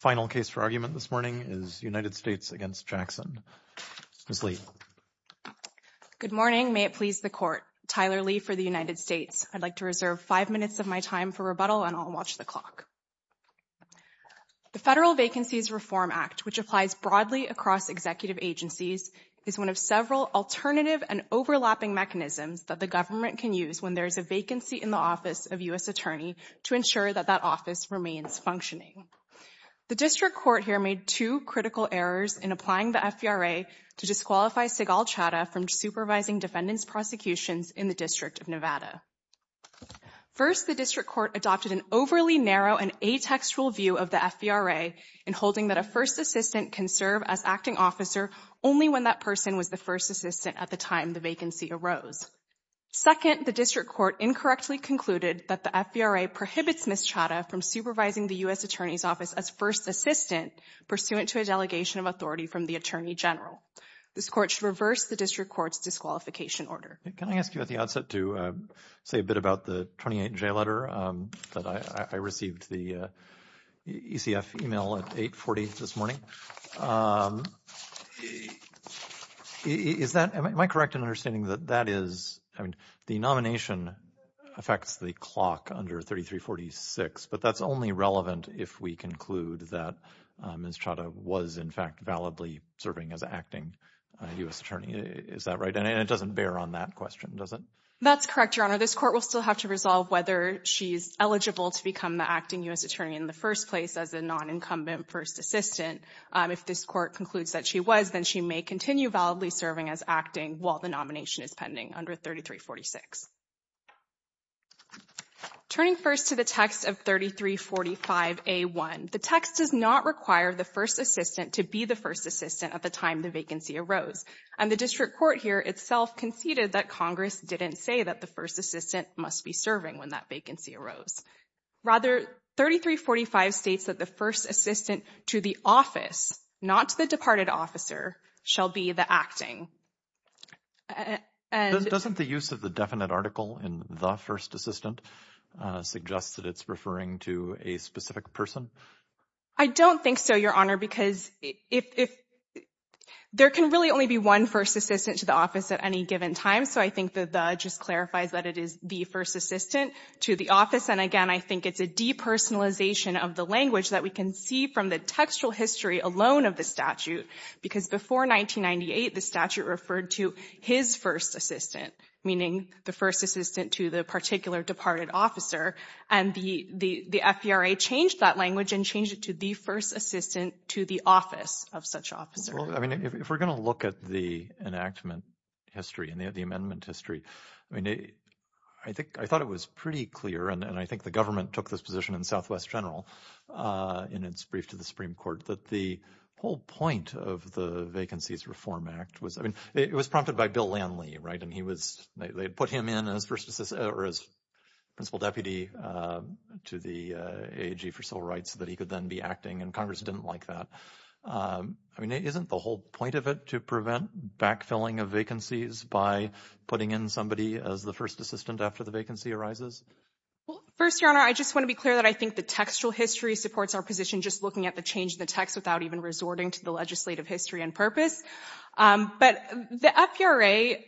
Final case for argument this morning is United States v. Jackson. Ms. Lee. Good morning. May it please the Court. Tyler Lee for the United States. I'd like to reserve five minutes of my time for rebuttal and I'll watch the clock. The Federal Vacancies Reform Act, which applies broadly across executive agencies, is one of several alternative and overlapping mechanisms that the government can use when there is a vacancy in the office of U.S. Attorney to ensure that that office remains functioning. The District Court here made two critical errors in applying the FVRA to disqualify Sigal Chadha from supervising defendants' prosecutions in the District of Nevada. First, the District Court adopted an overly narrow and atextual view of the FVRA in holding that a first assistant can serve as acting officer only when that person was the first assistant at the time the vacancy arose. Second, the District Court incorrectly concluded that the FVRA prohibits Ms. Chadha from supervising the U.S. Attorney's office as first assistant pursuant to a delegation of authority from the Attorney General. This Court should reverse the District Court's disqualification order. Can I ask you at the outset to say a bit about the 28-J letter that I received the ECF email at 8.40 this morning? Is that – am I correct in understanding that that is – I mean, the nomination affects the clock under 3346, but that's only relevant if we conclude that Ms. Chadha was in fact validly serving as acting U.S. Attorney. Is that right? And it doesn't bear on that question, does it? That's correct, Your Honor. This Court will still have to resolve whether she's eligible to become the acting U.S. Attorney in the first place as a non-incumbent first assistant. If this Court concludes that she was, then she may continue validly serving as acting while the nomination is pending under 3346. Turning first to the text of 3345A1, the text does not require the first assistant to be the first assistant at the time the vacancy arose, and the District Court here itself conceded that Congress didn't say that the first assistant must be serving when that vacancy arose. Rather, 3345 states that the first assistant to the office, not to the departed officer, shall be the acting. Doesn't the use of the definite article in the first assistant suggest that it's referring to a specific person? I don't think so, Your Honor, because there can really only be one first assistant to the office at any given time, so I think that the just clarifies that it is the first assistant to the office. And again, I think it's a depersonalization of the language that we can see from the textual history alone of the statute, because before 1998, the statute referred to his first assistant, meaning the first assistant to the particular departed officer, and the FBRA changed that language and changed it to the first assistant to the office of such officer. Well, I mean, if we're going to look at the enactment history and the amendment history, I mean, I think I thought it was pretty clear, and I think the government took this position in Southwest General in its brief to the Supreme Court, that the whole point of the Vacancies Reform Act was, I mean, it was prompted by Bill Lanley, right? And he was, they put him in as principal deputy to the AAG for Civil Rights so that he could then be acting, and Congress didn't like that. I mean, isn't the whole point of it to prevent backfilling of vacancies by putting in somebody as the first assistant after the vacancy arises? Well, first, Your Honor, I just want to be clear that I think the textual history supports our position just looking at the change in the text without even resorting to the legislative history and purpose. But the FBRA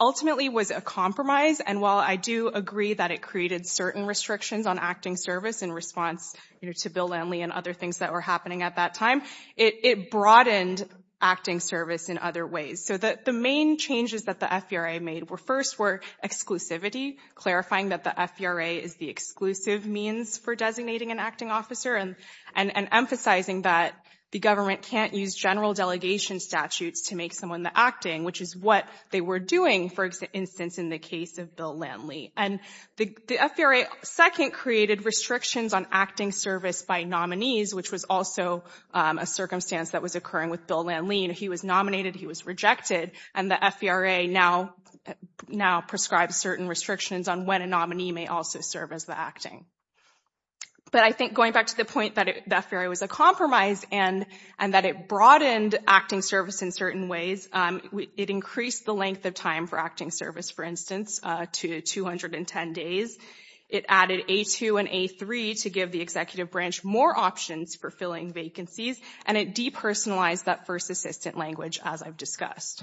ultimately was a compromise, and while I do agree that it created certain restrictions on acting service in response to Bill Lanley and other things that were happening at that time, it broadened acting service in other ways. So the main changes that the FBRA made were, first, were exclusivity, clarifying that the FBRA is the exclusive means for designating an acting officer and emphasizing that the government can't use general delegation statutes to make someone the acting, which is what they were doing, for instance, in the case of Bill Lanley. And the FBRA, second, created restrictions on acting service by nominees, which was also a circumstance that was occurring with Bill Lanley. He was nominated, he was rejected, and the FBRA now prescribes certain restrictions on when a nominee may also serve as the acting. But I think going back to the point that the FBRA was a compromise and that it broadened acting service in certain ways, it increased the length of time for acting service, for instance, to 210 days. It added A2 and A3 to give the executive branch more options for filling vacancies, and it depersonalized that first assistant language, as I've discussed.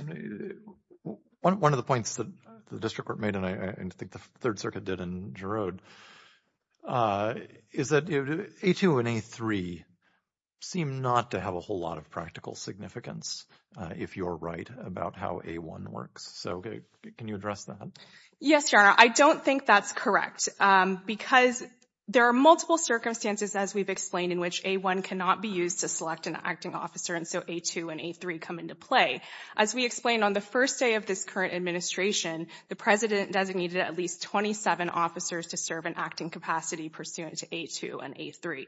One of the points that the District Court made, and I think the Third Circuit did in Giroud, is that A2 and A3 seem not to have a whole lot of practical significance, if you're right, about how A1 works. So can you address that? Yes, Your Honor. I don't think that's correct because there are multiple circumstances, as we've explained, in which A1 cannot be used to select an acting officer, and so A2 and A3 come into play. As we explained on the first day of this current administration, the President designated at least 27 officers to serve in acting capacity pursuant to A2 and A3.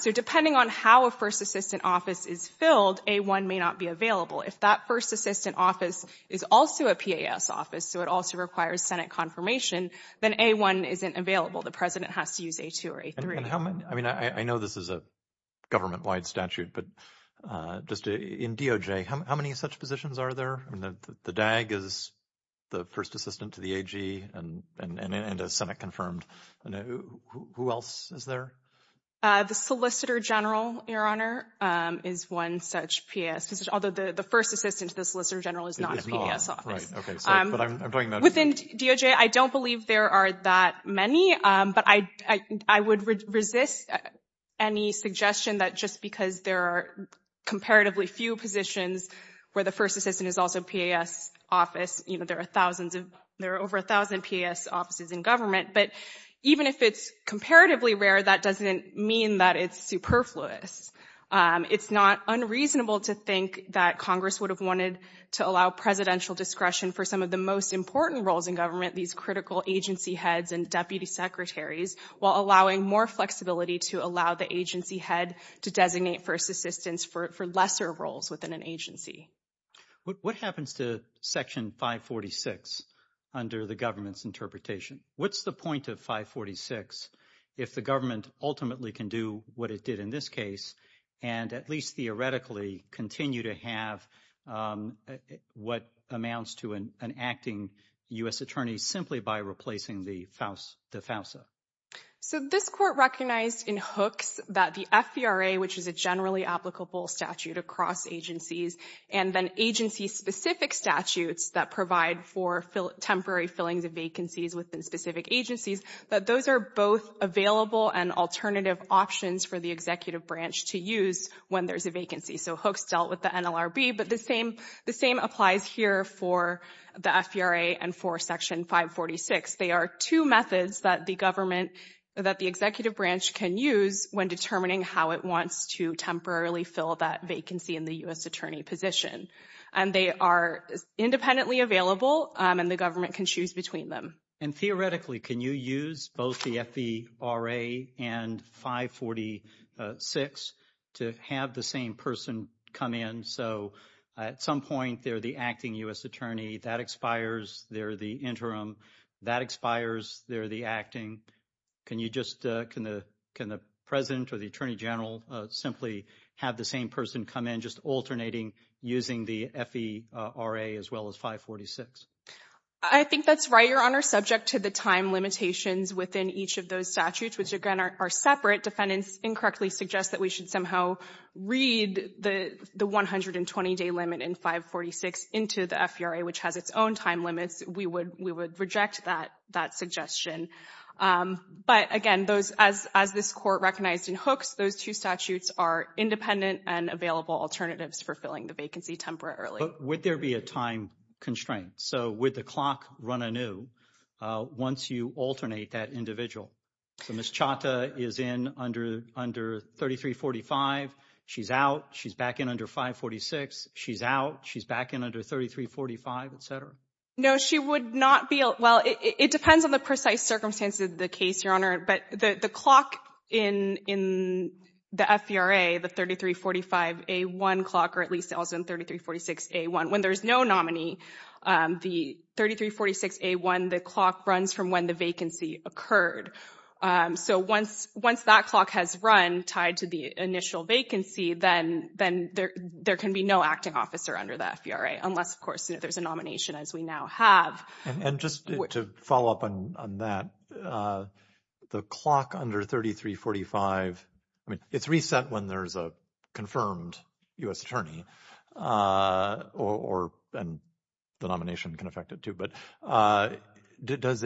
So depending on how a first assistant office is filled, A1 may not be available. If that first assistant office is also a PAS office, so it also requires Senate confirmation, then A1 isn't available. The President has to use A2 or A3. I mean, I know this is a government-wide statute, but just in DOJ, how many such positions are there? The DAG is the first assistant to the AG and a Senate-confirmed. Who else is there? The Solicitor General, Your Honor, is one such PAS position, although the first assistant to the Solicitor General is not a PAS office. It is not, right. Okay, sorry, but I'm talking about... Within DOJ, I don't believe there are that many, but I would resist any suggestion that just because there are comparatively few positions where the first assistant is also PAS office, you know, there are thousands of... There are over 1,000 PAS offices in government, but even if it's comparatively rare, that doesn't mean that it's superfluous. It's not unreasonable to think that Congress would have wanted to allow presidential discretion for some of the most important roles in government, these critical agency heads and deputy secretaries, while allowing more flexibility to allow the agency head to designate first assistants for lesser roles within an agency. What happens to Section 546 under the government's interpretation? What's the point of 546 if the government ultimately can do what it did in this case and at least theoretically continue to have what amounts to an acting U.S. attorney simply by replacing the FAUSA? So this Court recognized in Hooks that the FVRA, which is a generally applicable statute across agencies, and then agency-specific statutes that provide for temporary fillings of vacancies within specific agencies, that those are both available and alternative options for the executive branch to use when there's a vacancy. So Hooks dealt with the NLRB, but the same applies here for the FVRA and for Section 546. They are two methods that the government, that the executive branch can use when determining how it wants to temporarily fill that vacancy in the U.S. attorney position. And they are independently available, and the government can choose between them. And theoretically, can you use both the FVRA and 546 to have the same person come in? So at some point, they're the acting U.S. attorney, that expires, they're the interim, that expires, they're the acting. Can you just, can the President or the Attorney General simply have the same person come in, just alternating using the FVRA as well as 546? I think that's right, Your Honor. Subject to the time limitations within each of those statutes, which again are separate, defendants incorrectly suggest that we should somehow read the 120-day limit in 546 into the FVRA, which has its own time limits. We would reject that suggestion. But again, as this Court recognized in Hooks, those two statutes are independent and available alternatives for filling the vacancy temporarily. Would there be a time constraint? So would the clock run anew once you alternate that individual? So Ms. Chata is in under 3345. She's out. She's back in under 546. She's out. She's back in under 3345, et cetera. No, she would not be. Well, it depends on the precise circumstances of the case, Your Honor. But the clock in the FVRA, the 3345A1 clock, or at least also in 3346A1, when there's no nominee, the 3346A1, the clock runs from when the vacancy occurred. So once that clock has run tied to the initial vacancy, then there can be no acting officer under the FVRA, unless, of course, there's a nomination, as we now have. And just to follow up on that, the clock under 3345, I mean, it's reset when there's a confirmed U.S. attorney, and the nomination can affect it, too. But is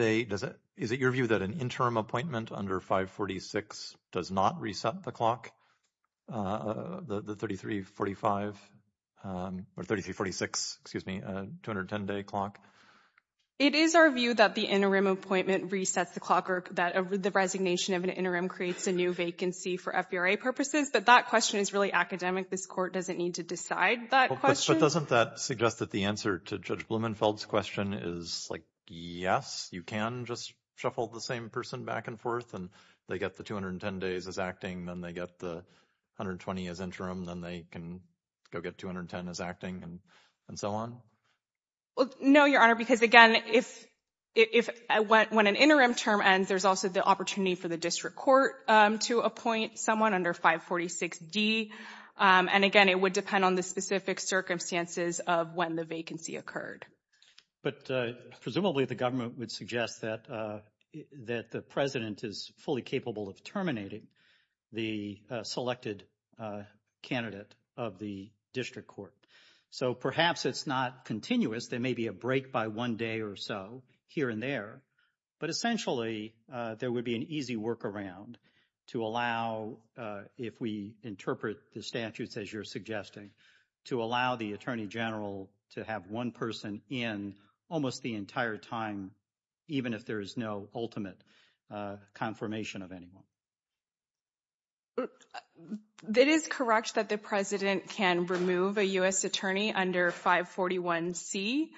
it your view that an interim appointment under 546 does not reset the clock, the 3345, or 3346, excuse me, 210-day clock? It is our view that the interim appointment resets the clock, or that the resignation of an interim creates a new vacancy for FVRA purposes. But that question is really academic. This Court doesn't need to decide that question. But doesn't that suggest that the answer to Judge Blumenfeld's question is, like, yes, you can just shuffle the same person back and forth, and they get the 210 days as acting, then they get the 120 as interim, then they can go get 210 as acting, and so on? Well, no, Your Honor, because, again, when an interim term ends, there's also the opportunity for the District Court to appoint someone under 546D. And again, it would depend on the specific circumstances of when the vacancy occurred. But presumably, the government would suggest that the President is fully capable of terminating the selected candidate of the District Court. So perhaps it's not continuous. There may be a break by one day or so here and there. But essentially, there would be an easy workaround to allow, if we interpret the statutes as you're suggesting, to allow the Attorney General to have one person in almost the entire time, even if there is no ultimate confirmation of anyone. It is correct that the President can remove a U.S. attorney under 541C.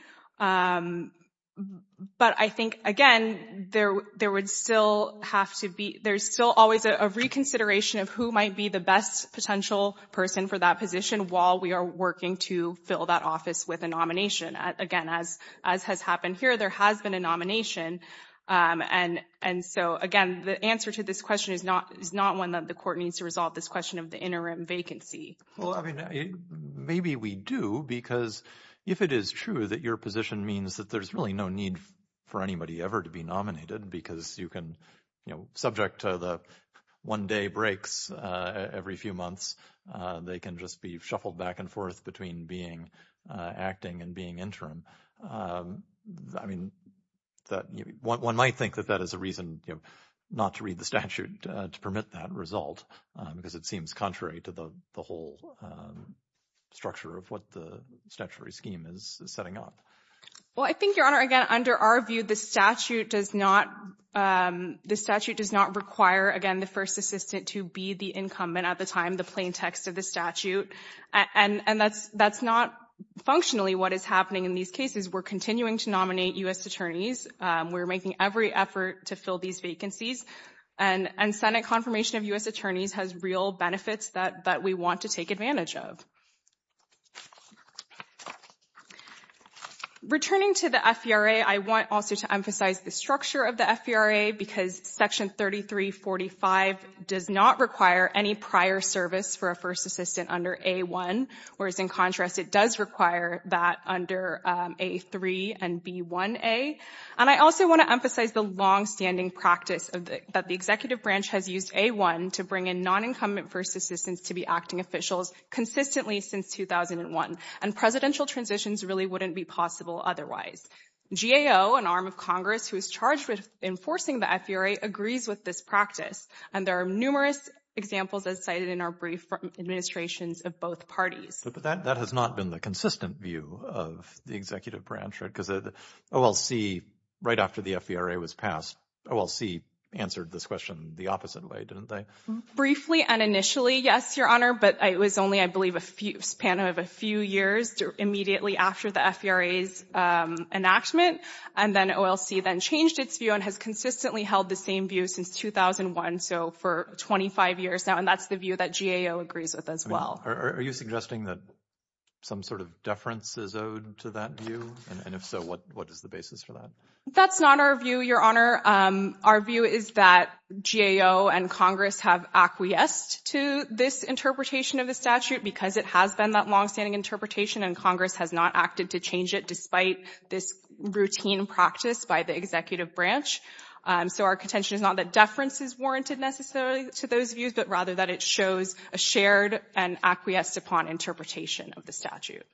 But I think, again, there would still have to be, there's still always a reconsideration of who might be the best potential person for that position while we are working to fill that office with a nomination. Again, as has happened here, there has been a nomination. And so, again, the answer to this question is not one that the Court needs to resolve, this question of the interim vacancy. Well, I mean, maybe we do, because if it is true that your position means that there's really no need for anybody ever to be nominated because you can, you know, subject to the one-day breaks every few months, they can just be shuffled back and forth between being acting and being interim. I mean, that one might think that that is a reason, you know, not to read the statute to permit that result, because it seems contrary to the whole structure of what the statutory scheme is setting up. Well, I think, Your Honor, again, under our view, the statute does not, the statute does not require, again, the first assistant to be the incumbent at the time, the plain text of the statute. And that's not functionally what is happening in these cases. We're continuing to nominate U.S. attorneys. We're making every effort to fill these vacancies. And Senate confirmation of U.S. attorneys has real benefits that we want to take advantage of. Returning to the FVRA, I want also to emphasize the structure of the FVRA, because Section 3345 does not require any prior service for a first assistant under A-1, whereas in contrast, it does require that under A-3 and B-1a. And I also want to emphasize the longstanding practice that the executive branch has used A-1 to bring in non-incumbent first assistants to be acting officials consistently since 2001. And presidential transitions really wouldn't be possible otherwise. GAO, an arm of Congress who is charged with enforcing the FVRA, agrees with this practice. And there are numerous examples, as cited in our brief, from administrations of both parties. But that has not been the consistent view of the executive branch, right? OLC, right after the FVRA was passed, OLC answered this question the opposite way, didn't they? Briefly and initially, yes, Your Honor. But it was only, I believe, a span of a few years immediately after the FVRA's enactment. And then OLC then changed its view and has consistently held the same view since 2001, so for 25 years now. And that's the view that GAO agrees with as well. Are you suggesting that some sort of deference is owed to that view? And if so, what is the basis for that? That's not our view, Your Honor. Our view is that GAO and Congress have acquiesced to this interpretation of the statute because it has been that longstanding interpretation and Congress has not acted to change it despite this routine practice by the executive branch. So our contention is not that deference is warranted necessarily to those views, but rather that it shows a shared and acquiesced upon interpretation of the statute.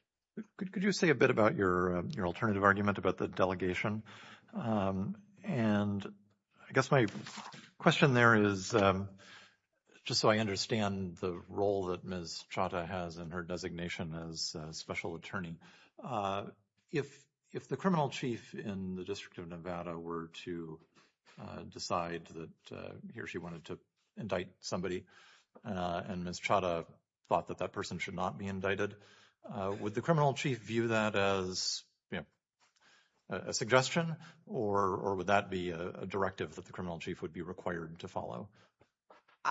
Could you say a bit about your alternative argument about the delegation? And I guess my question there is, just so I understand the role that Ms. Chata has in her designation as special attorney, if the criminal chief in the District of Nevada were to decide that he or she wanted to indict somebody and Ms. Chata thought that that person should not be indicted, would the criminal chief view that as, you know, a suggestion or would that be a directive that the criminal chief would be required to follow?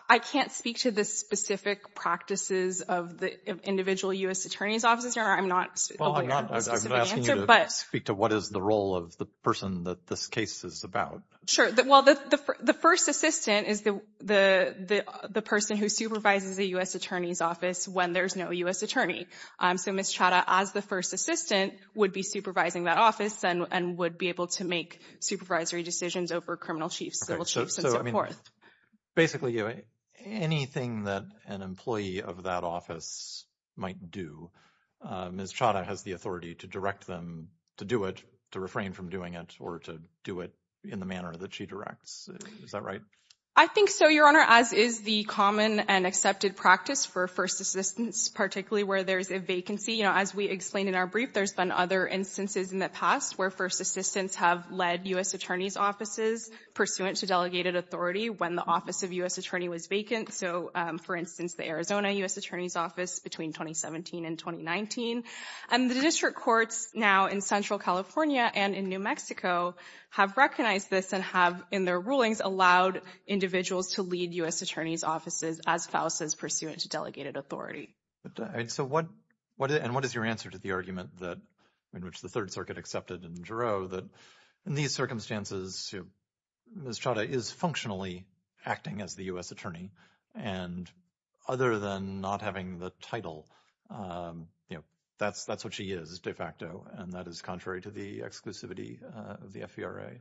I can't speak to the specific practices of the individual U.S. attorney's offices, Your I'm not— Well, I'm not asking you to speak to what is the role of the person that this case is about. Sure. Well, the first assistant is the person who supervises the U.S. attorney's office when there's no U.S. attorney. So Ms. Chata, as the first assistant, would be supervising that office and would be able to make supervisory decisions over criminal chiefs, civil chiefs, and so forth. Basically, anything that an employee of that office might do, Ms. Chata has the authority to direct them to do it, to refrain from doing it, or to do it in the manner that she directs. Is that right? I think so, Your Honor, as is the common and accepted practice for first assistants, particularly where there's a vacancy. You know, as we explained in our brief, there's been other instances in the past where first assistants have led U.S. attorney's offices pursuant to delegated authority when the office of U.S. attorney was vacant. So, for instance, the Arizona U.S. attorney's office between 2017 and 2019. And the district courts now in Central California and in New Mexico have recognized this and in their rulings allowed individuals to lead U.S. attorney's offices as false pursuant to delegated authority. So what is your answer to the argument in which the Third Circuit accepted in Giro that in these circumstances, Ms. Chata is functionally acting as the U.S. attorney. And other than not having the title, that's what she is de facto. And that is contrary to the exclusivity of the FVRA.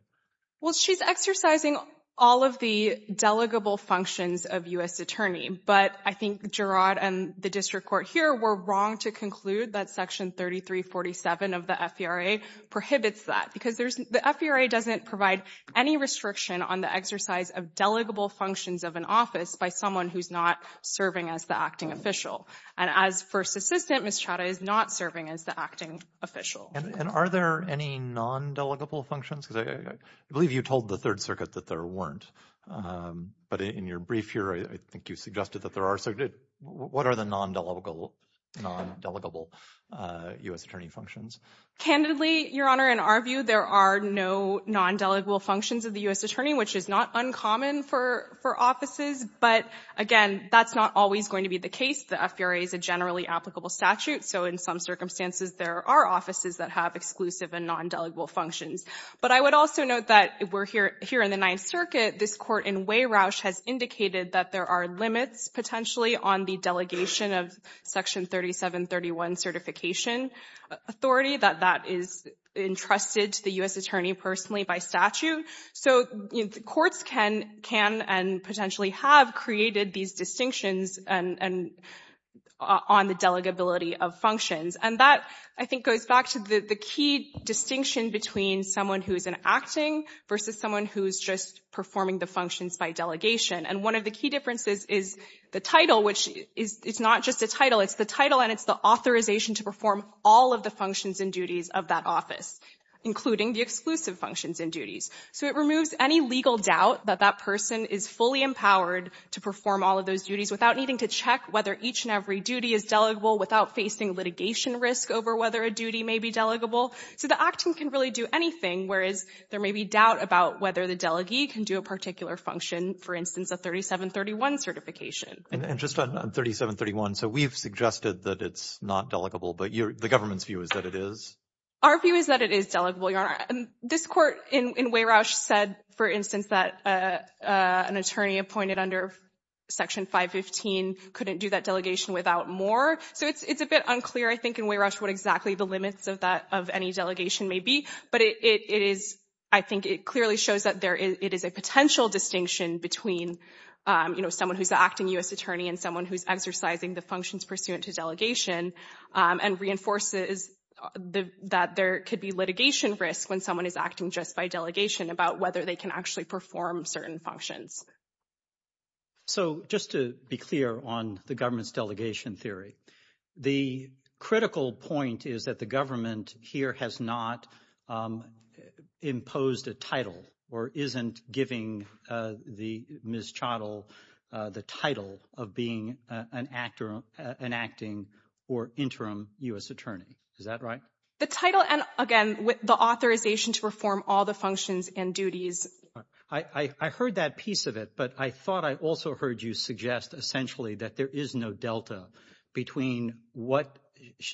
Well, she's exercising all of the delegable functions of U.S. attorney. But I think Gerard and the district court here were wrong to conclude that Section 3347 of the FVRA prohibits that because there's the FVRA doesn't provide any restriction on the exercise of delegable functions of an office by someone who's not serving as the acting official. And as first assistant, Ms. Chata is not serving as the acting official. And are there any non-delegable functions? Because I believe you told the Third Circuit that there weren't. But in your brief here, I think you suggested that there are. So what are the non-delegable U.S. attorney functions? Candidly, Your Honor, in our view, there are no non-delegable functions of the U.S. attorney, which is not uncommon for offices. But again, that's not always going to be the case. The FVRA is a generally applicable statute. So in some circumstances, there are offices that have exclusive and non-delegable functions. But I would also note that we're here in the Ninth Circuit. This court in Weyroush has indicated that there are limits potentially on the delegation of Section 3731 certification authority, that that is entrusted to the U.S. attorney personally by statute. So courts can and potentially have created these distinctions and on the delegability of functions. And that, I think, goes back to the key distinction between someone who is an acting versus someone who is just performing the functions by delegation. And one of the key differences is the title, which is not just a title. It's the title and it's the authorization to perform all of the functions and duties of that office, including the exclusive functions and duties. So it removes any legal doubt that that person is fully empowered to perform all of those duties without needing to check whether each and every duty is delegable, without facing litigation risk over whether a duty may be delegable. So the acting can really do anything, whereas there may be doubt about whether the delegee can do a particular function, for instance, a 3731 certification. And just on 3731, so we've suggested that it's not delegable, but the government's view is that it is? Our view is that it is delegable, Your Honor. This court in Weyroush said, for instance, that an attorney appointed under Section 515 couldn't do that delegation without more. So it's a bit unclear, I think, in Weyroush what exactly the limits of any delegation may be. But it is, I think it clearly shows that it is a potential distinction between someone who's an acting U.S. attorney and someone who's exercising the functions pursuant to and reinforces that there could be litigation risk when someone is acting just by delegation about whether they can actually perform certain functions. So just to be clear on the government's delegation theory, the critical point is that the government here has not imposed a title or isn't giving the Ms. Chodol the title of being an acting or interim U.S. attorney. Is that right? The title and, again, the authorization to perform all the functions and duties. I heard that piece of it, but I thought I also heard you suggest essentially that there is no delta between what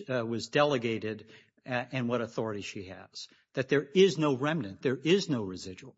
was delegated and what authority she has. That there is no remnant. There is no residual.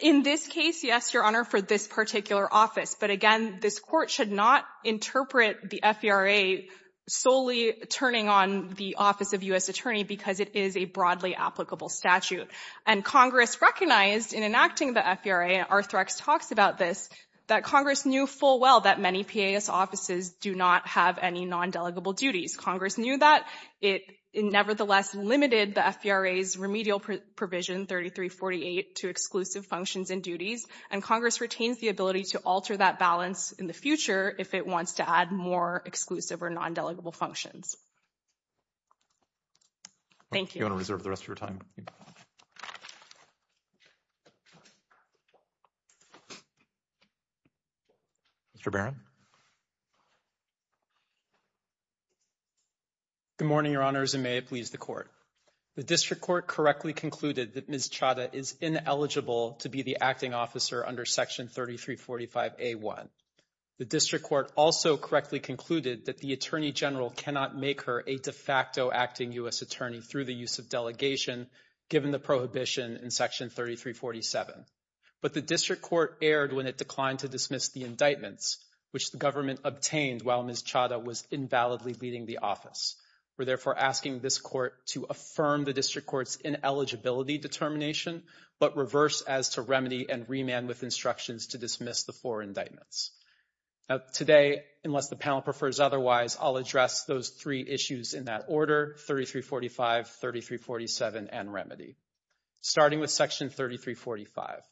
In this case, yes, Your Honor, for this particular office. But again, this court should not interpret the FERA solely turning on the office of U.S. attorney because it is a broadly applicable statute. And Congress recognized in enacting the FERA, and Arthrex talks about this, that Congress knew full well that many PAS offices do not have any non-delegable duties. Congress knew that. It nevertheless limited the FERA's remedial provision 3348 to exclusive functions and duties, and Congress retains the ability to alter that balance in the future if it wants to add more exclusive or non-delegable functions. Thank you. Your Honor, reserve the rest of your time. Mr. Barron. Good morning, Your Honors, and may it please the Court. The District Court correctly concluded that Ms. Chadha is ineligible to be the acting officer under Section 3345A1. The District Court also correctly concluded that the Attorney General cannot make her a de facto acting U.S. attorney through the use of delegation given the prohibition in Section 3347. But the District Court erred when it declined to dismiss the indictments, which the government obtained while Ms. Chadha was invalidly leading the office. We're therefore asking this Court to affirm the District Court's ineligibility determination, but reverse as to remedy and remand with instructions to dismiss the four indictments. Now today, unless the panel prefers otherwise, I'll address those three issues in that order, 3345, 3347, and remedy. Starting with Section 3345.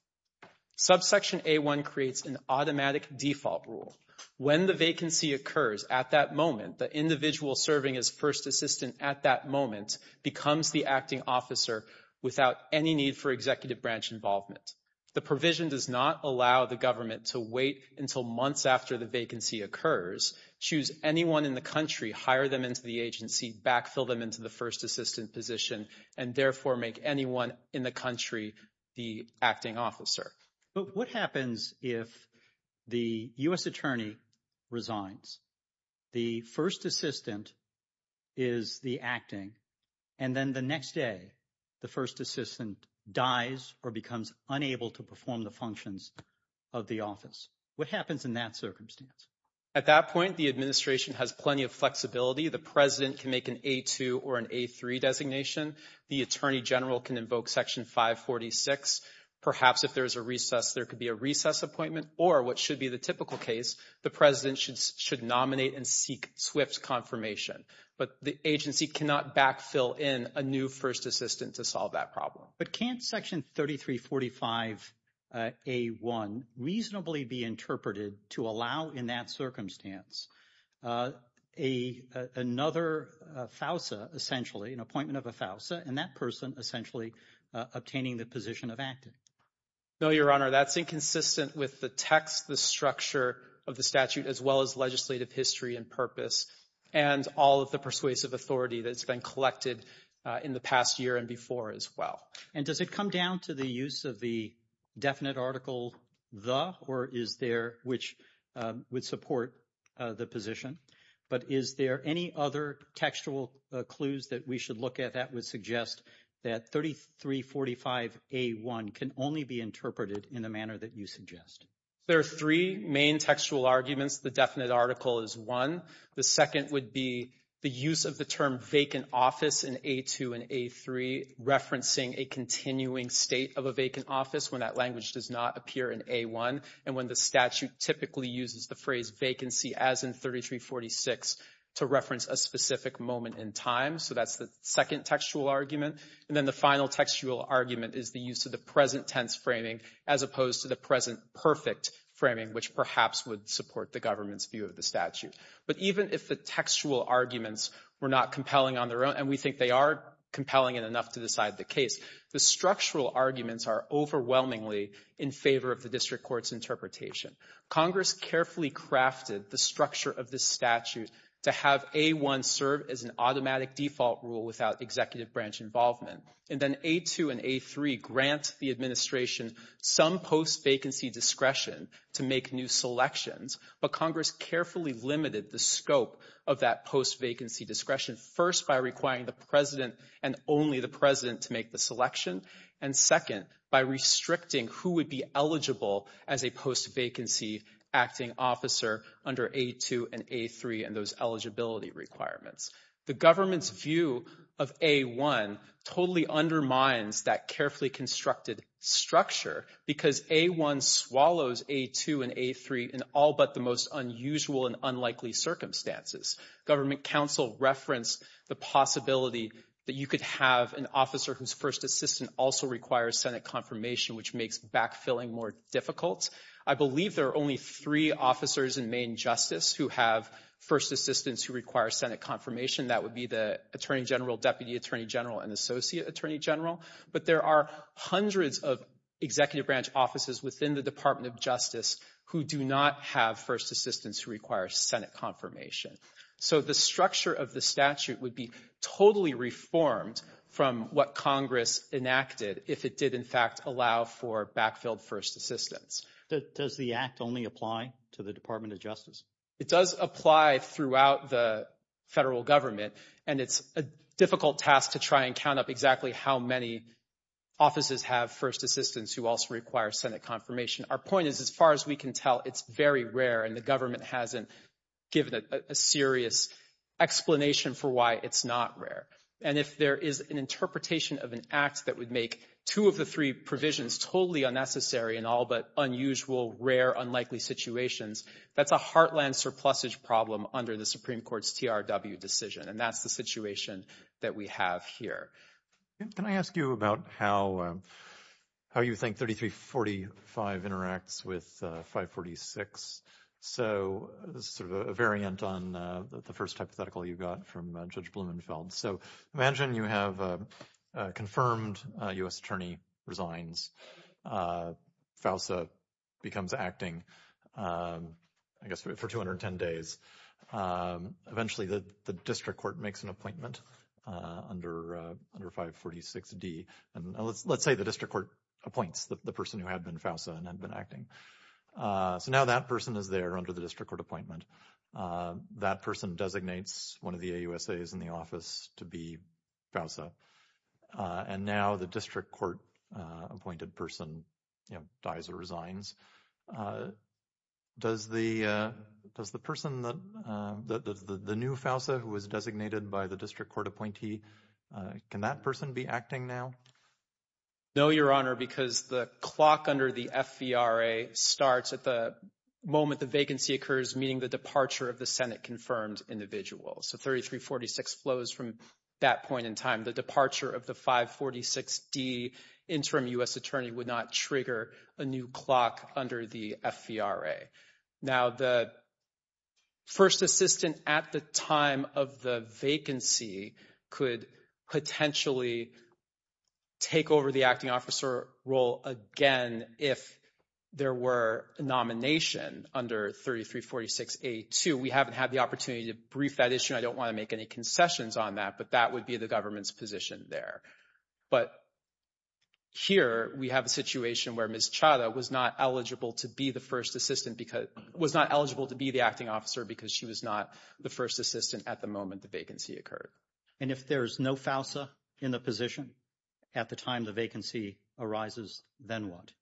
Subsection A1 creates an automatic default rule. When the vacancy occurs at that moment, the individual serving as first assistant at that moment becomes the acting officer without any need for executive branch involvement. The provision does not allow the government to wait until months after the vacancy occurs, choose anyone in the country, hire them into the agency, backfill them into the first position, and therefore make anyone in the country the acting officer. But what happens if the U.S. attorney resigns? The first assistant is the acting, and then the next day, the first assistant dies or becomes unable to perform the functions of the office. What happens in that circumstance? At that point, the administration has plenty of flexibility. The president can make an A2 or an A3 designation. The attorney general can invoke Section 546. Perhaps if there is a recess, there could be a recess appointment, or what should be the typical case, the president should nominate and seek swift confirmation. But the agency cannot backfill in a new first assistant to solve that problem. But can't Section 3345 A1 reasonably be interpreted to allow in that circumstance another FAUSA, essentially, an appointment of a FAUSA, and that person essentially obtaining the position of acting? No, Your Honor. That's inconsistent with the text, the structure of the statute, as well as legislative history and purpose and all of the persuasive authority that's been collected in the past year and before as well. And does it come down to the use of the definite article, the, or is there which would support the position? But is there any other textual clues that we should look at that would suggest that 3345 A1 can only be interpreted in the manner that you suggest? There are three main textual arguments. The definite article is one. The second would be the use of the term vacant office in A2 and A3, referencing a continuing state of a vacant office when that language does not appear in A1. And when the statute typically uses the phrase vacancy as in 3346 to reference a specific moment in time. So that's the second textual argument. And then the final textual argument is the use of the present tense framing as opposed to the present perfect framing, which perhaps would support the government's view of the statute. But even if the textual arguments were not compelling on their own, and we think they are compelling enough to decide the case, the structural arguments are overwhelmingly in favor of the district court's interpretation. Congress carefully crafted the structure of this statute to have A1 serve as an automatic default rule without executive branch involvement. And then A2 and A3 grant the administration some post vacancy discretion to make new selections. But Congress carefully limited the scope of that post vacancy discretion, first by requiring the president and only the president to make the selection. And second, by restricting who would be eligible as a post vacancy acting officer under A2 and A3 and those eligibility requirements. The government's view of A1 totally undermines that carefully constructed structure because A1 swallows A2 and A3 in all but the most unusual and unlikely circumstances. Government counsel referenced the possibility that you could have an officer whose first assistant also requires Senate confirmation, which makes backfilling more difficult. I believe there are only three officers in Maine Justice who have first assistants who require Senate confirmation. That would be the Attorney General, Deputy Attorney General, and Associate Attorney General. But there are hundreds of executive branch offices within the Department of Justice who do not have first assistants who require Senate confirmation. So the structure of the statute would be totally reformed from what Congress enacted if it did in fact allow for backfilled first assistants. Does the act only apply to the Department of Justice? It does apply throughout the federal government. And it's a difficult task to try and count up exactly how many offices have first assistants who also require Senate confirmation. Our point is, as far as we can tell, it's very rare. And the government hasn't given a serious explanation for why it's not rare. And if there is an interpretation of an act that would make two of the three provisions totally unnecessary in all but unusual, rare, unlikely situations, that's a heartland surplusage problem under the Supreme Court's TRW decision. And that's the situation that we have here. Can I ask you about how you think 3345 interacts with 546? So this is sort of a variant on the first hypothetical you got from Judge Blumenfeld. So imagine you have a confirmed U.S. attorney resigns. FAUSA becomes acting, I guess, for 210 days. Eventually, the district court makes an appointment under 546D. And let's say the district court appoints the person who had been FAUSA and had been acting. So now that person is there under the district court appointment. That person designates one of the AUSAs in the office to be FAUSA. And now the district court appointed person, you know, dies or resigns. So does the person, the new FAUSA who was designated by the district court appointee, can that person be acting now? No, Your Honor, because the clock under the FVRA starts at the moment the vacancy occurs, meaning the departure of the Senate-confirmed individual. So 3346 flows from that point in time. The departure of the 546D interim U.S. attorney would not trigger a new clock under the FVRA. Now, the first assistant at the time of the vacancy could potentially take over the acting officer role again if there were nomination under 3346A2. We haven't had the opportunity to brief that issue. I don't want to make any concessions on that. But that would be the government's position there. But here we have a situation where Ms. Chadha was not eligible to be the first assistant because, was not eligible to be the acting officer because she was not the first assistant at the moment the vacancy occurred. And if there is no FAUSA in the position at the time the vacancy arises, then what?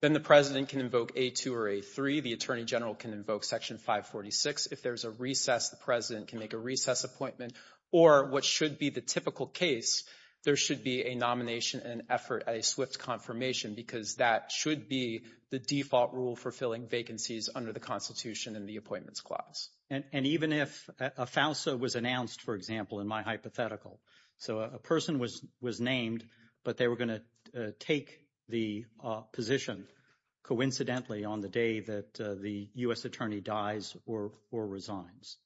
Then the president can invoke A2 or A3. The attorney general can invoke Section 546. If there's a recess, the president can make a recess appointment. Or what should be the typical case, there should be a nomination and effort, a swift confirmation, because that should be the default rule for filling vacancies under the Constitution and the Appointments Clause. And even if a FAUSA was announced, for example, in my hypothetical, so a person was named, but they were going to take the position coincidentally on the day that the U.S. attorney dies or resigns.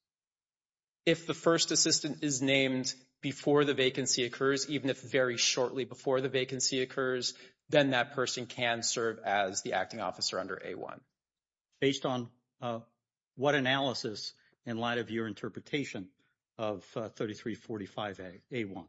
If the first assistant is named before the vacancy occurs, even if very shortly before the vacancy occurs, then that person can serve as the acting officer under A1. Based on what analysis in light of your interpretation of 3345 A1?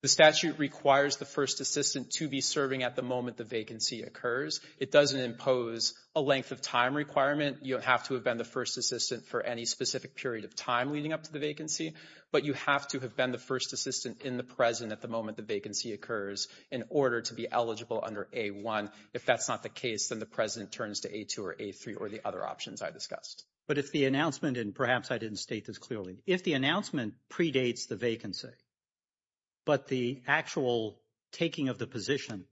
The statute requires the first assistant to be serving at the moment the vacancy occurs. It doesn't impose a length of time requirement. You don't have to have been the first assistant for any specific period of time leading up to the vacancy, but you have to have been the first assistant in the present at the moment the vacancy occurs in order to be eligible under A1. If that's not the case, then the president turns to A2 or A3 or the other options I discussed. But if the announcement, and perhaps I didn't state this clearly, if the announcement predates the vacancy, but the actual taking of the position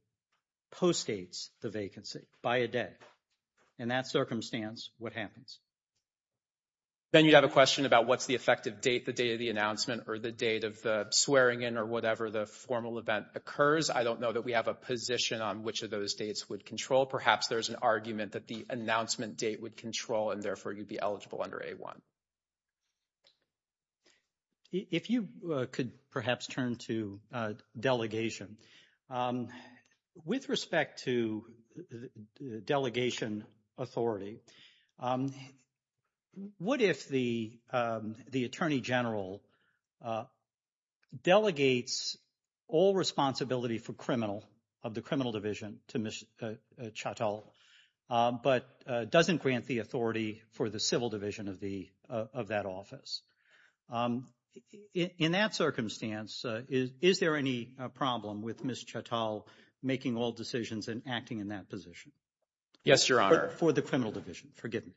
postdates the vacancy by a day, in that circumstance, what happens? Then you'd have a question about what's the effective date, the date of the announcement or the date of the swearing in or whatever the formal event occurs. I don't know that we have a position on which of those dates would control. Perhaps there's an argument that the announcement date would control and therefore you'd be eligible under A1. If you could perhaps turn to delegation. With respect to delegation authority, what if the attorney general delegates all responsibility for criminal, of the criminal division to Ms. Chattel, but doesn't grant the authority for the civil division of that office? In that circumstance, is there any problem with Ms. Chattel making all decisions and acting in that position? Yes, Your Honor. For the criminal division, forgive me.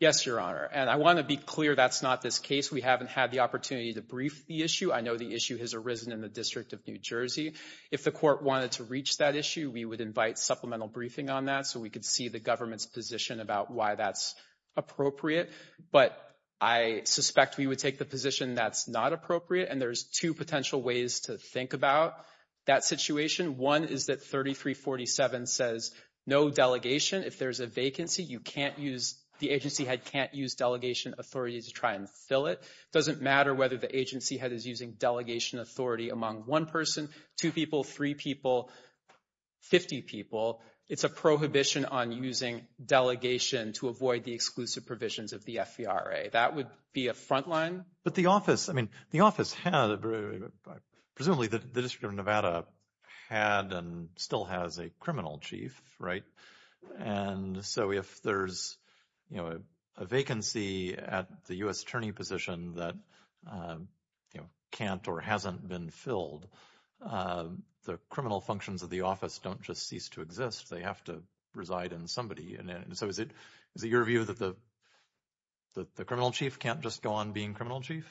Yes, Your Honor. And I want to be clear that's not this case. We haven't had the opportunity to brief the issue. I know the issue has arisen in the District of New Jersey. If the court wanted to reach that issue, we would invite supplemental briefing on that so we could see the government's position about why that's appropriate. But I suspect we would take the position that's not appropriate. And there's two potential ways to think about that situation. One is that 3347 says no delegation. If there's a vacancy, you can't use, the agency head can't use delegation authority to try and fill it. It doesn't matter whether the agency head is using delegation authority among one person, two people, three people, 50 people. It's a prohibition on using delegation to avoid the exclusive provisions of the FVRA. That would be a frontline. But the office, I mean, the office had, presumably the District of Nevada had and still has a criminal chief, right? And so if there's, you know, a vacancy at the U.S. attorney position that, you know, can't or hasn't been filled, the criminal functions of the office don't just cease to exist. They have to reside in somebody. So is it your view that the criminal chief can't just go on being criminal chief?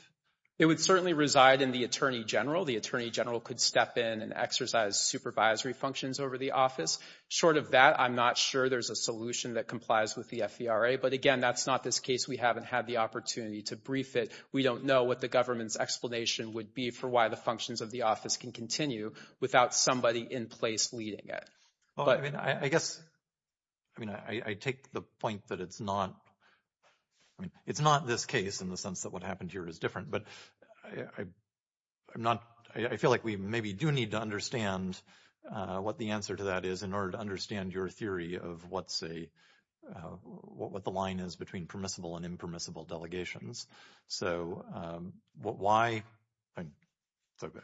It would certainly reside in the attorney general. The attorney general could step in and exercise supervisory functions over the office. Short of that, I'm not sure there's a solution that complies with the FVRA. But again, that's not this case. We haven't had the opportunity to brief it. We don't know what the government's explanation would be for why the functions of the office can continue without somebody in place leading it. I mean, I guess, I mean, I take the point that it's not, I mean, it's not this case in the sense that what happened here is different. But I'm not, I feel like we maybe do need to understand what the answer to that is in order to understand your theory of what's a, what the line is between permissible and impermissible delegations. So why, I don't know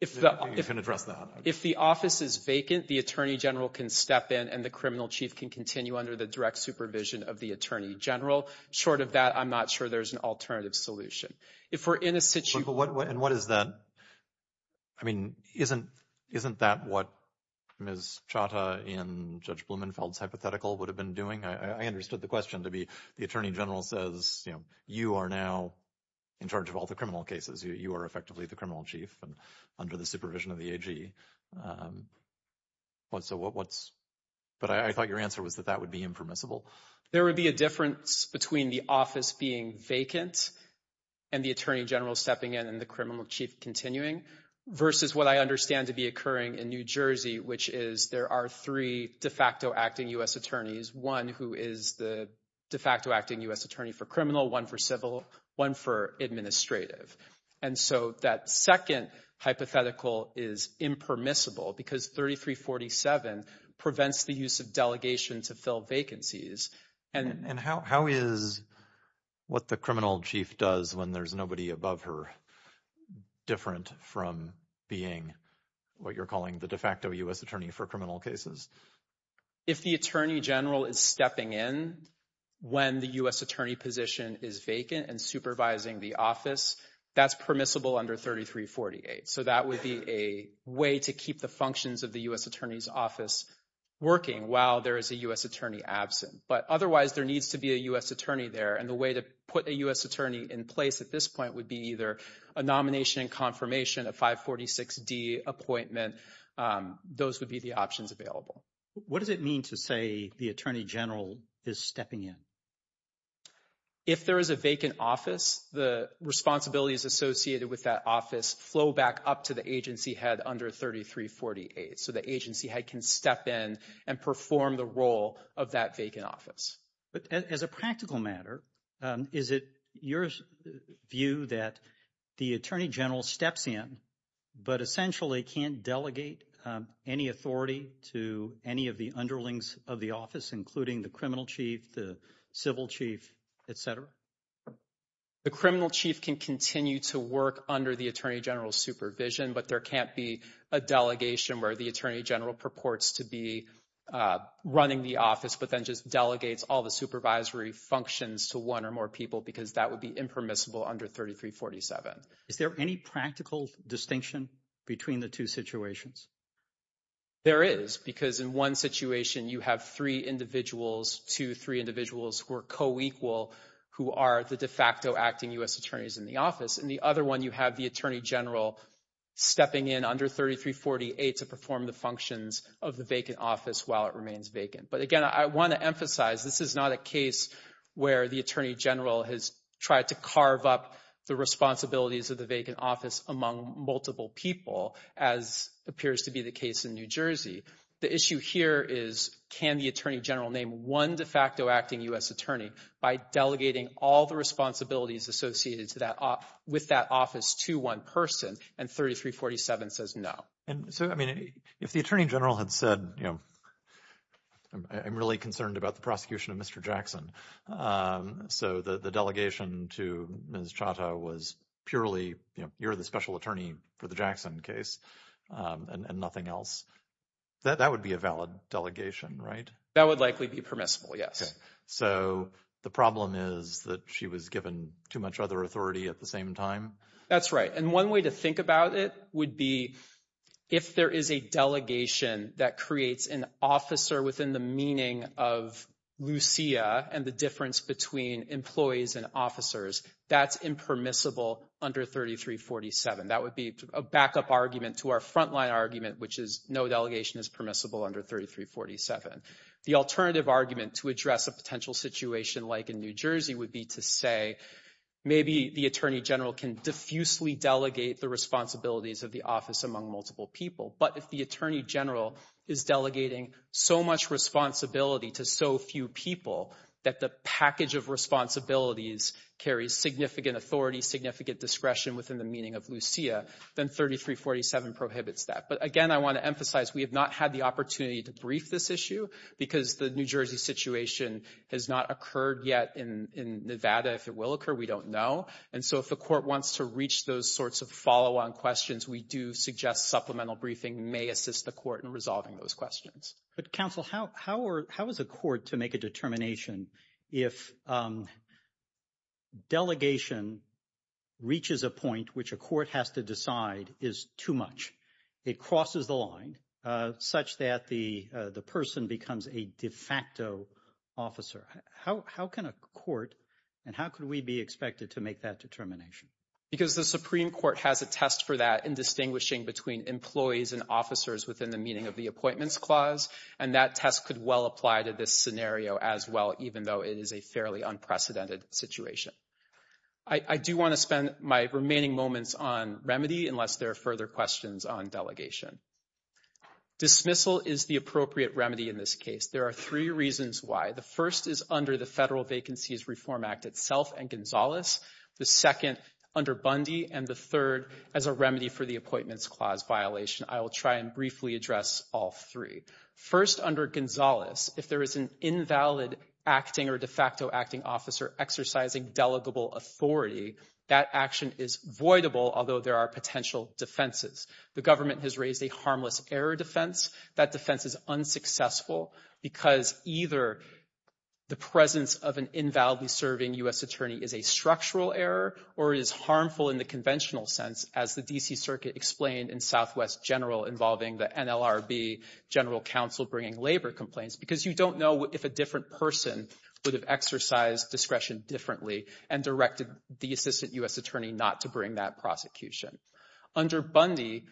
if you can address that. If the office is vacant, the attorney general can step in and the criminal chief can continue under the direct supervision of the attorney general. Short of that, I'm not sure there's an alternative solution. If we're in a situation. But what, and what is that? I mean, isn't, isn't that what Ms. Chata in Judge Blumenfeld's hypothetical would have been doing? I understood the question to be the attorney general says, you know, you are now in charge of all the criminal cases. You are effectively the criminal chief under the supervision of the AG. So what's, but I thought your answer was that that would be impermissible. There would be a difference between the office being vacant and the attorney general stepping in and the criminal chief continuing versus what I understand to be occurring in New Jersey, which is there are three de facto acting U.S. attorneys. One who is the de facto acting U.S. attorney for criminal, one for civil, one for administrative. And so that second hypothetical is impermissible because 3347 prevents the use of delegation to fill vacancies. And how, how is what the criminal chief does when there's nobody above her different from being what you're calling the de facto U.S. attorney for criminal cases? If the attorney general is stepping in when the U.S. attorney position is vacant and supervising the office, that's permissible under 3348. So that would be a way to keep the functions of the U.S. attorney's office working while there is a U.S. attorney absent. But otherwise there needs to be a U.S. attorney there. And the way to put a U.S. attorney in place at this point would be either a nomination and confirmation, a 546D appointment. Those would be the options available. What does it mean to say the attorney general is stepping in? If there is a vacant office, the responsibilities associated with that office flow back up to the agency head under 3348. So the agency head can step in and perform the role of that vacant office. But as a practical matter, is it your view that the attorney general steps in but essentially can't delegate any authority to any of the underlings of the office, including the criminal chief, the civil chief, et cetera? The criminal chief can continue to work under the attorney general's supervision, but there can't be a delegation where the attorney general purports to be running the office but then just delegates all the supervisory functions to one or more people because that would be impermissible under 3347. Is there any practical distinction between the two situations? There is, because in one situation you have three individuals, two, three individuals who are co-equal, who are the de facto acting U.S. attorneys in the office. In the other one you have the attorney general stepping in under 3348 to perform the functions of the vacant office while it remains vacant. But again, I want to emphasize this is not a case where the attorney general has tried to carve up the responsibilities of the vacant office among multiple people as appears to be the case in New Jersey. The issue here is can the attorney general name one de facto acting U.S. attorney by delegating all the responsibilities associated with that office to one person and 3347 says no. And so, I mean, if the attorney general had said, you know, I'm really concerned about the prosecution of Mr. Jackson. So the delegation to Ms. Chata was purely, you know, you're the special attorney for the Jackson case and nothing else. That would be a valid delegation, right? That would likely be permissible, yes. So the problem is that she was given too much other authority at the same time? That's right. And one way to think about it would be if there is a delegation that creates an officer within the meaning of Lucia and the difference between employees and officers, that's impermissible under 3347. That would be a backup argument to our frontline argument, which is no delegation is permissible under 3347. The alternative argument to address a potential situation like in New Jersey would be to say maybe the attorney general can diffusely delegate the responsibilities of the office among multiple people. But if the attorney general is delegating so much responsibility to so few people that the package of responsibilities carries significant authority, significant discretion within the meaning of Lucia, then 3347 prohibits that. But again, I want to emphasize we have not had the opportunity to brief this issue because the New Jersey situation has not occurred yet in Nevada. If it will occur, we don't know. And so if the court wants to reach those sorts of follow-on questions, we do suggest supplemental briefing may assist the court in resolving those questions. But counsel, how is a court to make a determination if delegation reaches a point which a court has to decide is too much? It crosses the line such that the person becomes a de facto officer. How can a court and how could we be expected to make that determination? Because the Supreme Court has a test for that in distinguishing between employees and officers within the meaning of the Appointments Clause. And that test could well apply to this scenario as well, even though it is a fairly unprecedented situation. I do want to spend my remaining moments on remedy unless there are further questions on delegation. Dismissal is the appropriate remedy in this case. There are three reasons why. The first is under the Federal Vacancies Reform Act itself and Gonzales. The second under Bundy. And the third as a remedy for the Appointments Clause violation. I will try and briefly address all three. First, under Gonzales, if there is an invalid acting or de facto acting officer exercising delegable authority, that action is voidable, although there are potential defenses. The government has raised a harmless error defense. That defense is unsuccessful because either the presence of an invalidly serving U.S. attorney is a structural error or is harmful in the conventional sense, as the D.C. Circuit explained in Southwest General involving the NLRB general counsel bringing labor complaints. Because you don't know if a different person would have exercised discretion differently and directed the assistant U.S. attorney not to bring that prosecution. Under Bundy,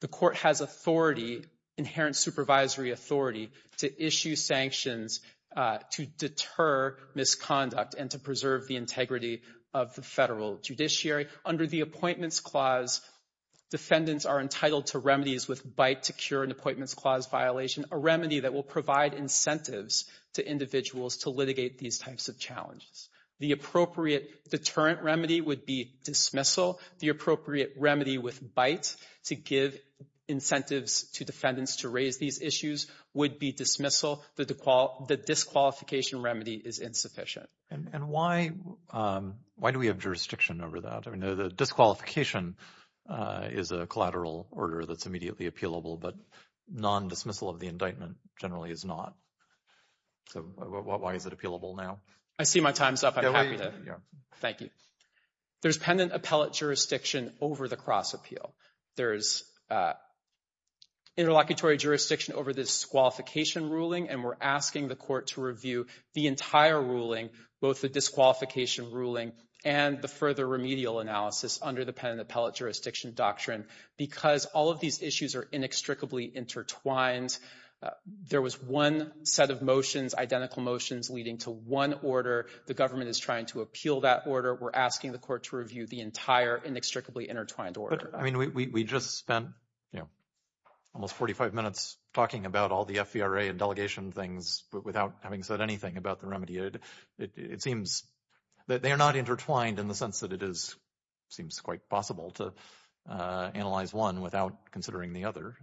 the court has authority, inherent supervisory authority, to issue sanctions to deter misconduct and to preserve the integrity of the federal judiciary. Under the Appointments Clause, defendants are entitled to remedies with bite to cure an Appointments Clause violation, a remedy that will provide incentives to individuals to litigate these types of challenges. The appropriate deterrent remedy would be dismissal. The appropriate remedy with bite to give incentives to defendants to raise these issues would be dismissal. The disqualification remedy is insufficient. And why do we have jurisdiction over that? I mean, the disqualification is a collateral order that's immediately appealable, but non-dismissal of the indictment generally is not. So why is it appealable now? I see my time's up. I'm happy to, thank you. There's pendent appellate jurisdiction over the cross appeal. There's interlocutory jurisdiction over the disqualification ruling, and we're asking the court to review the entire ruling, both the disqualification ruling and the further remedial analysis under the pendent appellate jurisdiction doctrine because all of these issues are inextricably intertwined. There was one set of motions, identical motions leading to one order. The government is trying to appeal that order. We're asking the court to review the entire inextricably intertwined order. But I mean, we just spent almost 45 minutes talking about all the FVRA and delegation things without having said anything about the remedy. It seems that they are not intertwined in the sense that it seems quite possible to analyze one without considering the other.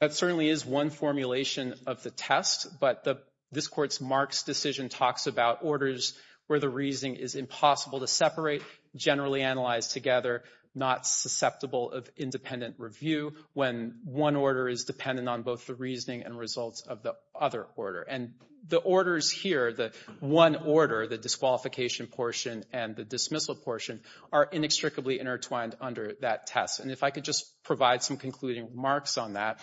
That certainly is one formulation of the test, but this court's Marx decision talks about orders where the reasoning is impossible to separate, generally analyzed together, not susceptible of independent review when one order is dependent on both the reasoning and results of the other order. And the orders here, the one order, the disqualification portion and the dismissal portion are inextricably intertwined under that test. And if I could just provide some concluding remarks on that.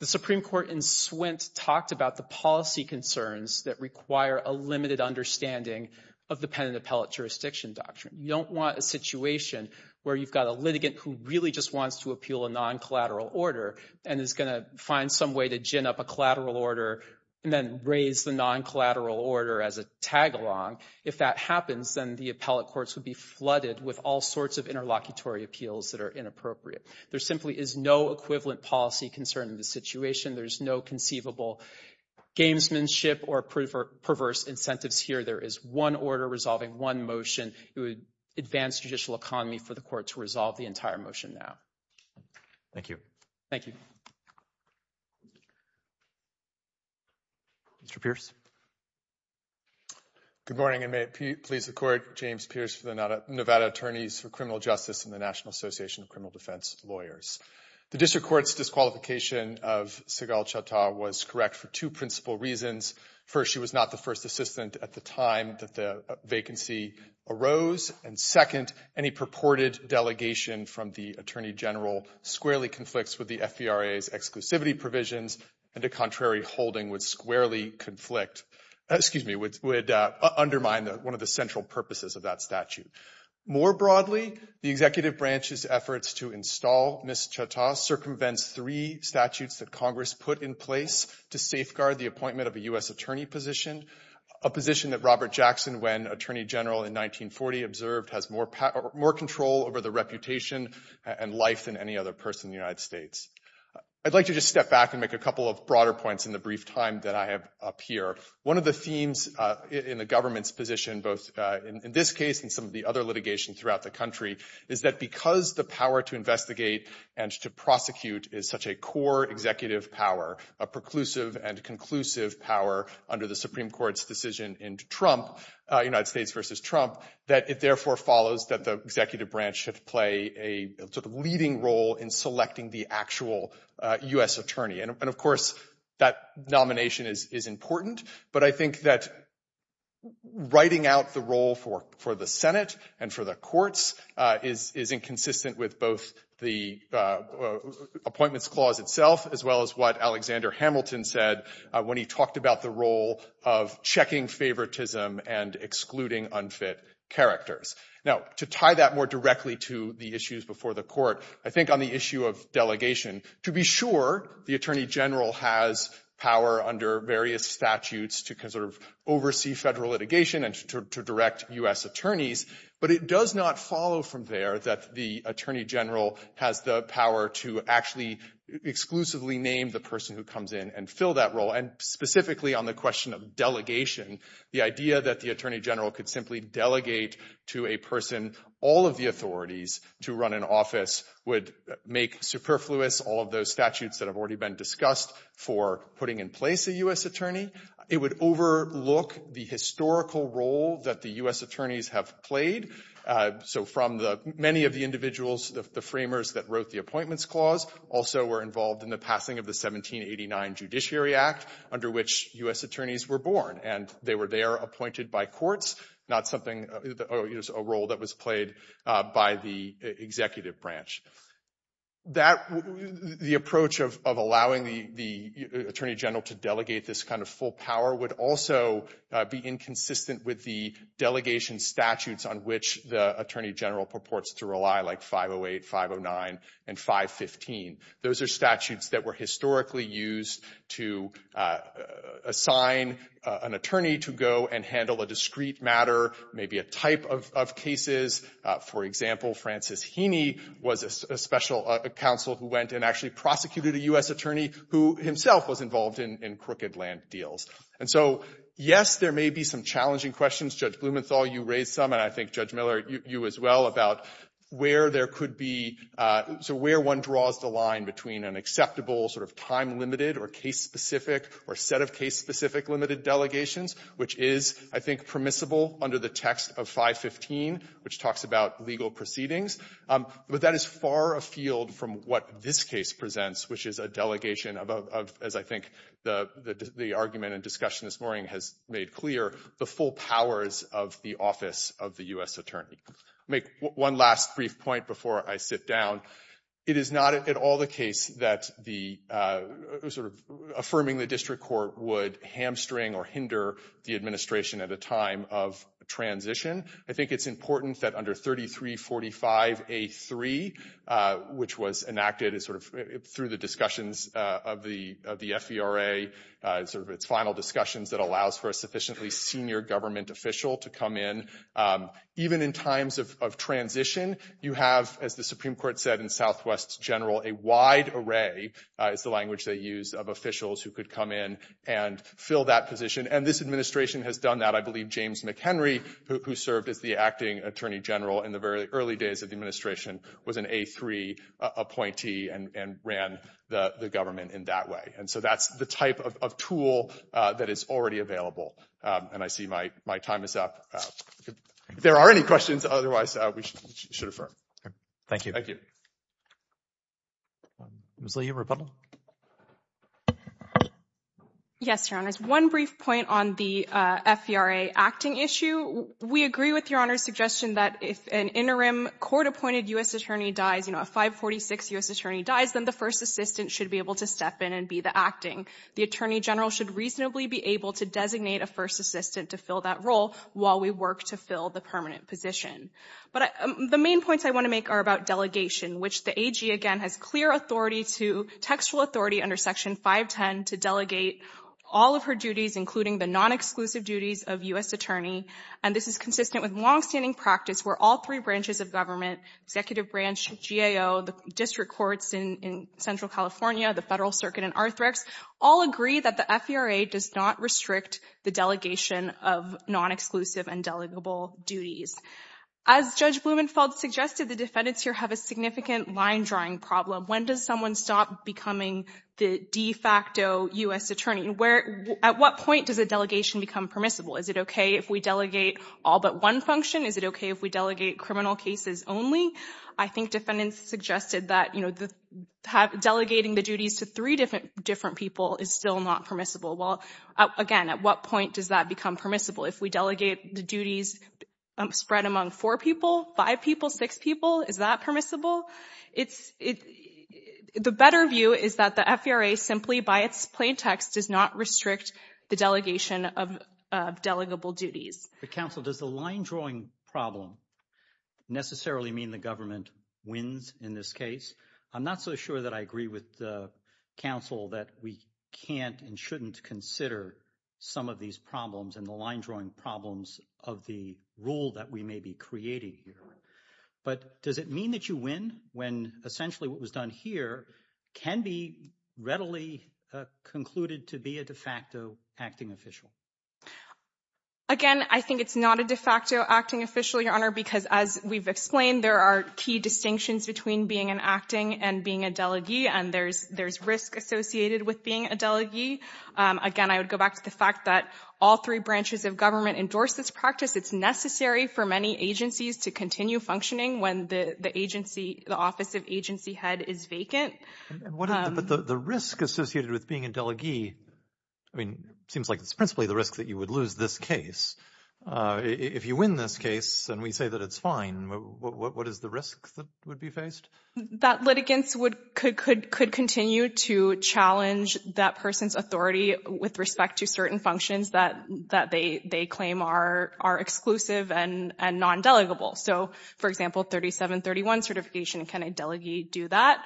The Supreme Court in Swint talked about the policy concerns that require a limited understanding of the Pen and Appellate Jurisdiction Doctrine. You don't want a situation where you've got a litigant who really just wants to appeal a non-collateral order and is going to find some way to gin up a collateral order and then raise the non-collateral order as a tagalong. If that happens, then the appellate courts would be flooded with all sorts of interlocutory appeals that are inappropriate. There simply is no equivalent policy concern in this situation. There's no conceivable gamesmanship or perverse incentives here. There is one order resolving one motion. It would advance judicial economy for the court to resolve the entire motion now. Thank you. Thank you. Mr. Pierce. Good morning and may it please the Court. James Pierce for the Nevada Attorneys for Criminal Justice and the National Association of Criminal Defense Lawyers. The district court's disqualification of Sehgal Chattah was correct for two principal reasons. First, she was not the first assistant at the time that the vacancy arose. And second, any purported delegation from the attorney general squarely conflicts with the FBRA's exclusivity provisions and a contrary holding would squarely conflict, excuse me, would undermine one of the central purposes of that statute. More broadly, the executive branch's efforts to install Ms. Chattah circumvents three statutes that Congress put in place to safeguard the appointment of a U.S. attorney position, a position that Robert Jackson, when attorney general in 1940, observed has more control over the reputation and life than any other person in the United States. I'd like to just step back and make a couple of broader points in the brief time that I have up here. One of the themes in the government's position, both in this case and some of the other litigation throughout the country, is that because the power to investigate and to prosecute is such a core executive power, a preclusive and conclusive power under the Supreme Court's decision in Trump, United States versus Trump, that it therefore follows that the executive branch should play a sort of leading role in selecting the actual U.S. attorney. And of course, that nomination is important. But I think that writing out the role for the Senate and for the courts is inconsistent with both the appointments clause itself, as well as what Alexander Hamilton said when he talked about the role of checking favoritism and excluding unfit characters. Now, to tie that more directly to the issues before the court, I think on the issue of delegation, to be sure the attorney general has power under various statutes to oversee federal litigation and to direct U.S. attorneys. But it does not follow from there that the attorney general has the power to actually exclusively name the person who comes in and fill that role. And specifically on the question of delegation, the idea that the attorney general could simply delegate to a person all of the authorities to run an office would make superfluous all of those statutes that have already been discussed for putting in place a U.S. attorney. It would overlook the historical role that the U.S. attorneys have played. So from many of the individuals, the framers that wrote the appointments clause also were involved in the passing of the 1789 Judiciary Act, under which U.S. attorneys were born. And they were there appointed by courts, not something, a role that was played by the executive branch. The approach of allowing the attorney general to delegate this kind of full power would also be inconsistent with the delegation statutes on which the attorney general purports to rely, like 508, 509, and 515. Those are statutes that were historically used to assign an attorney to go and handle a discrete matter, maybe a type of cases. For example, Francis Heaney was a special counsel who went and actually prosecuted a U.S. attorney who himself was involved in crooked land deals. And so, yes, there may be some challenging questions. Judge Blumenthal, you raised some, and I think Judge Miller, you as well, about where there could be, so where one draws the line between an acceptable sort of time-limited or case-specific or set of case-specific limited delegations, which is, I think, permissible under the text of 515, which talks about legal proceedings. But that is far afield from what this case presents, which is a delegation of, as I think the argument and discussion this morning has made clear, the full powers of the office of the U.S. attorney. Make one last brief point before I sit down. It is not at all the case that the, sort of, affirming the district court would hamstring or hinder the administration at a time of transition. I think it's important that under 3345A3, which was enacted as sort of, through the discussions of the FERA, sort of its final discussions that allows for a sufficiently senior government official to come in. Even in times of transition, you have, as the Supreme Court said in Southwest General, a wide array, is the language they use, of officials who could come in and fill that position. And this administration has done that. I believe James McHenry, who served as the acting attorney general in the very early days of the administration, was an A3 appointee and ran the government in that way. And so that's the type of tool that is already available. And I see my time is up. If there are any questions, otherwise we should affirm. Okay, thank you. Thank you. Ms. Leahy, rebuttal? Yes, your honors. One brief point on the FERA acting issue. We agree with your honor's suggestion that if an interim court-appointed U.S. attorney dies, you know, a 546 U.S. attorney dies, then the first assistant should be able to step in and be the acting. The attorney general should reasonably be able to designate a first assistant to fill that role while we work to fill the permanent position. But the main points I want to make are about delegation, which the AG, again, has clear authority to, textual authority under Section 510 to delegate all of her duties, including the non-exclusive duties of U.S. attorney. And this is consistent with longstanding practice where all three branches of government, executive branch, GAO, the district courts in Central California, the Federal Circuit in Arthrex, all agree that the FERA does not restrict the delegation of non-exclusive and delegable duties. As Judge Blumenfeld suggested, the defendants here have a significant line-drawing problem. When does someone stop becoming the de facto U.S. attorney? At what point does a delegation become permissible? Is it okay if we delegate all but one function? Is it okay if we delegate criminal cases only? I think defendants suggested that, delegating the duties to three different people is still not permissible. Well, again, at what point does that become permissible? If we delegate the duties spread among four people, five people, six people, is that permissible? The better view is that the FERA simply by its plain text does not restrict the delegation of delegable duties. But counsel, does the line-drawing problem necessarily mean the government wins in this case? I'm not so sure that I agree with counsel that we can't and shouldn't consider some of these problems and the line-drawing problems of the rule that we may be creating here. But does it mean that you win when essentially what was done here can be readily concluded to be a de facto acting official? Again, I think it's not a de facto acting official, Your Honor, because as we've explained, there are key distinctions between being an acting and being a delegee, and there's risk associated with being a delegee. Again, I would go back to the fact that all three branches of government endorse this practice. It's necessary for many agencies to continue functioning when the office of agency head is vacant. But the risk associated with being a delegee, I mean, it seems like it's principally the risk that you would lose this case. If you win this case and we say that it's fine, what is the risk that would be faced? That litigants could continue to challenge that person's authority with respect to certain functions that they claim are exclusive and non-delegable. So for example, 3731 certification, can a delegee do that?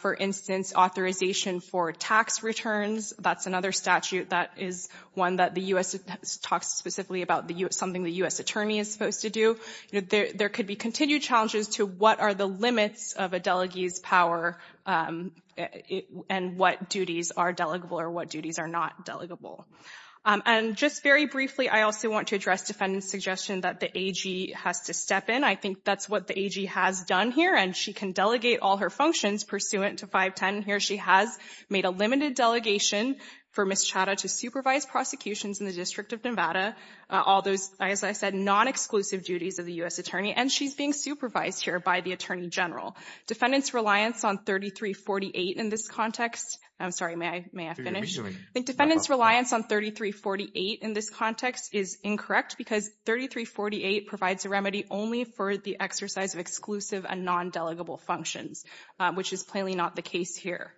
For instance, authorization for tax returns, that's another statute that is one that the U.S. talks specifically about something the U.S. attorney is supposed to do. There could be continued challenges to what are the limits of a delegee's power and what duties are delegable or what duties are not delegable. And just very briefly, I also want to address defendant's suggestion that the AG has to step in. I think that's what the AG has done here, and she can delegate all her functions pursuant to 510. Here she has made a limited delegation for Ms. Chada to supervise prosecutions in the District of Nevada, all those, as I said, non-exclusive duties of the U.S. attorney, and she's being supervised here by the Attorney General. Defendant's reliance on 3348 in this context, I'm sorry, may I finish? Defendant's reliance on 3348 in this context is incorrect because 3348 provides a remedy only for the exercise of exclusive and non-delegable functions, which is plainly not the case here.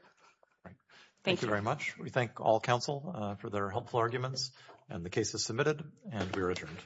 All right. Thank you very much. We thank all counsel for their helpful arguments, and the case is submitted, and we are adjourned.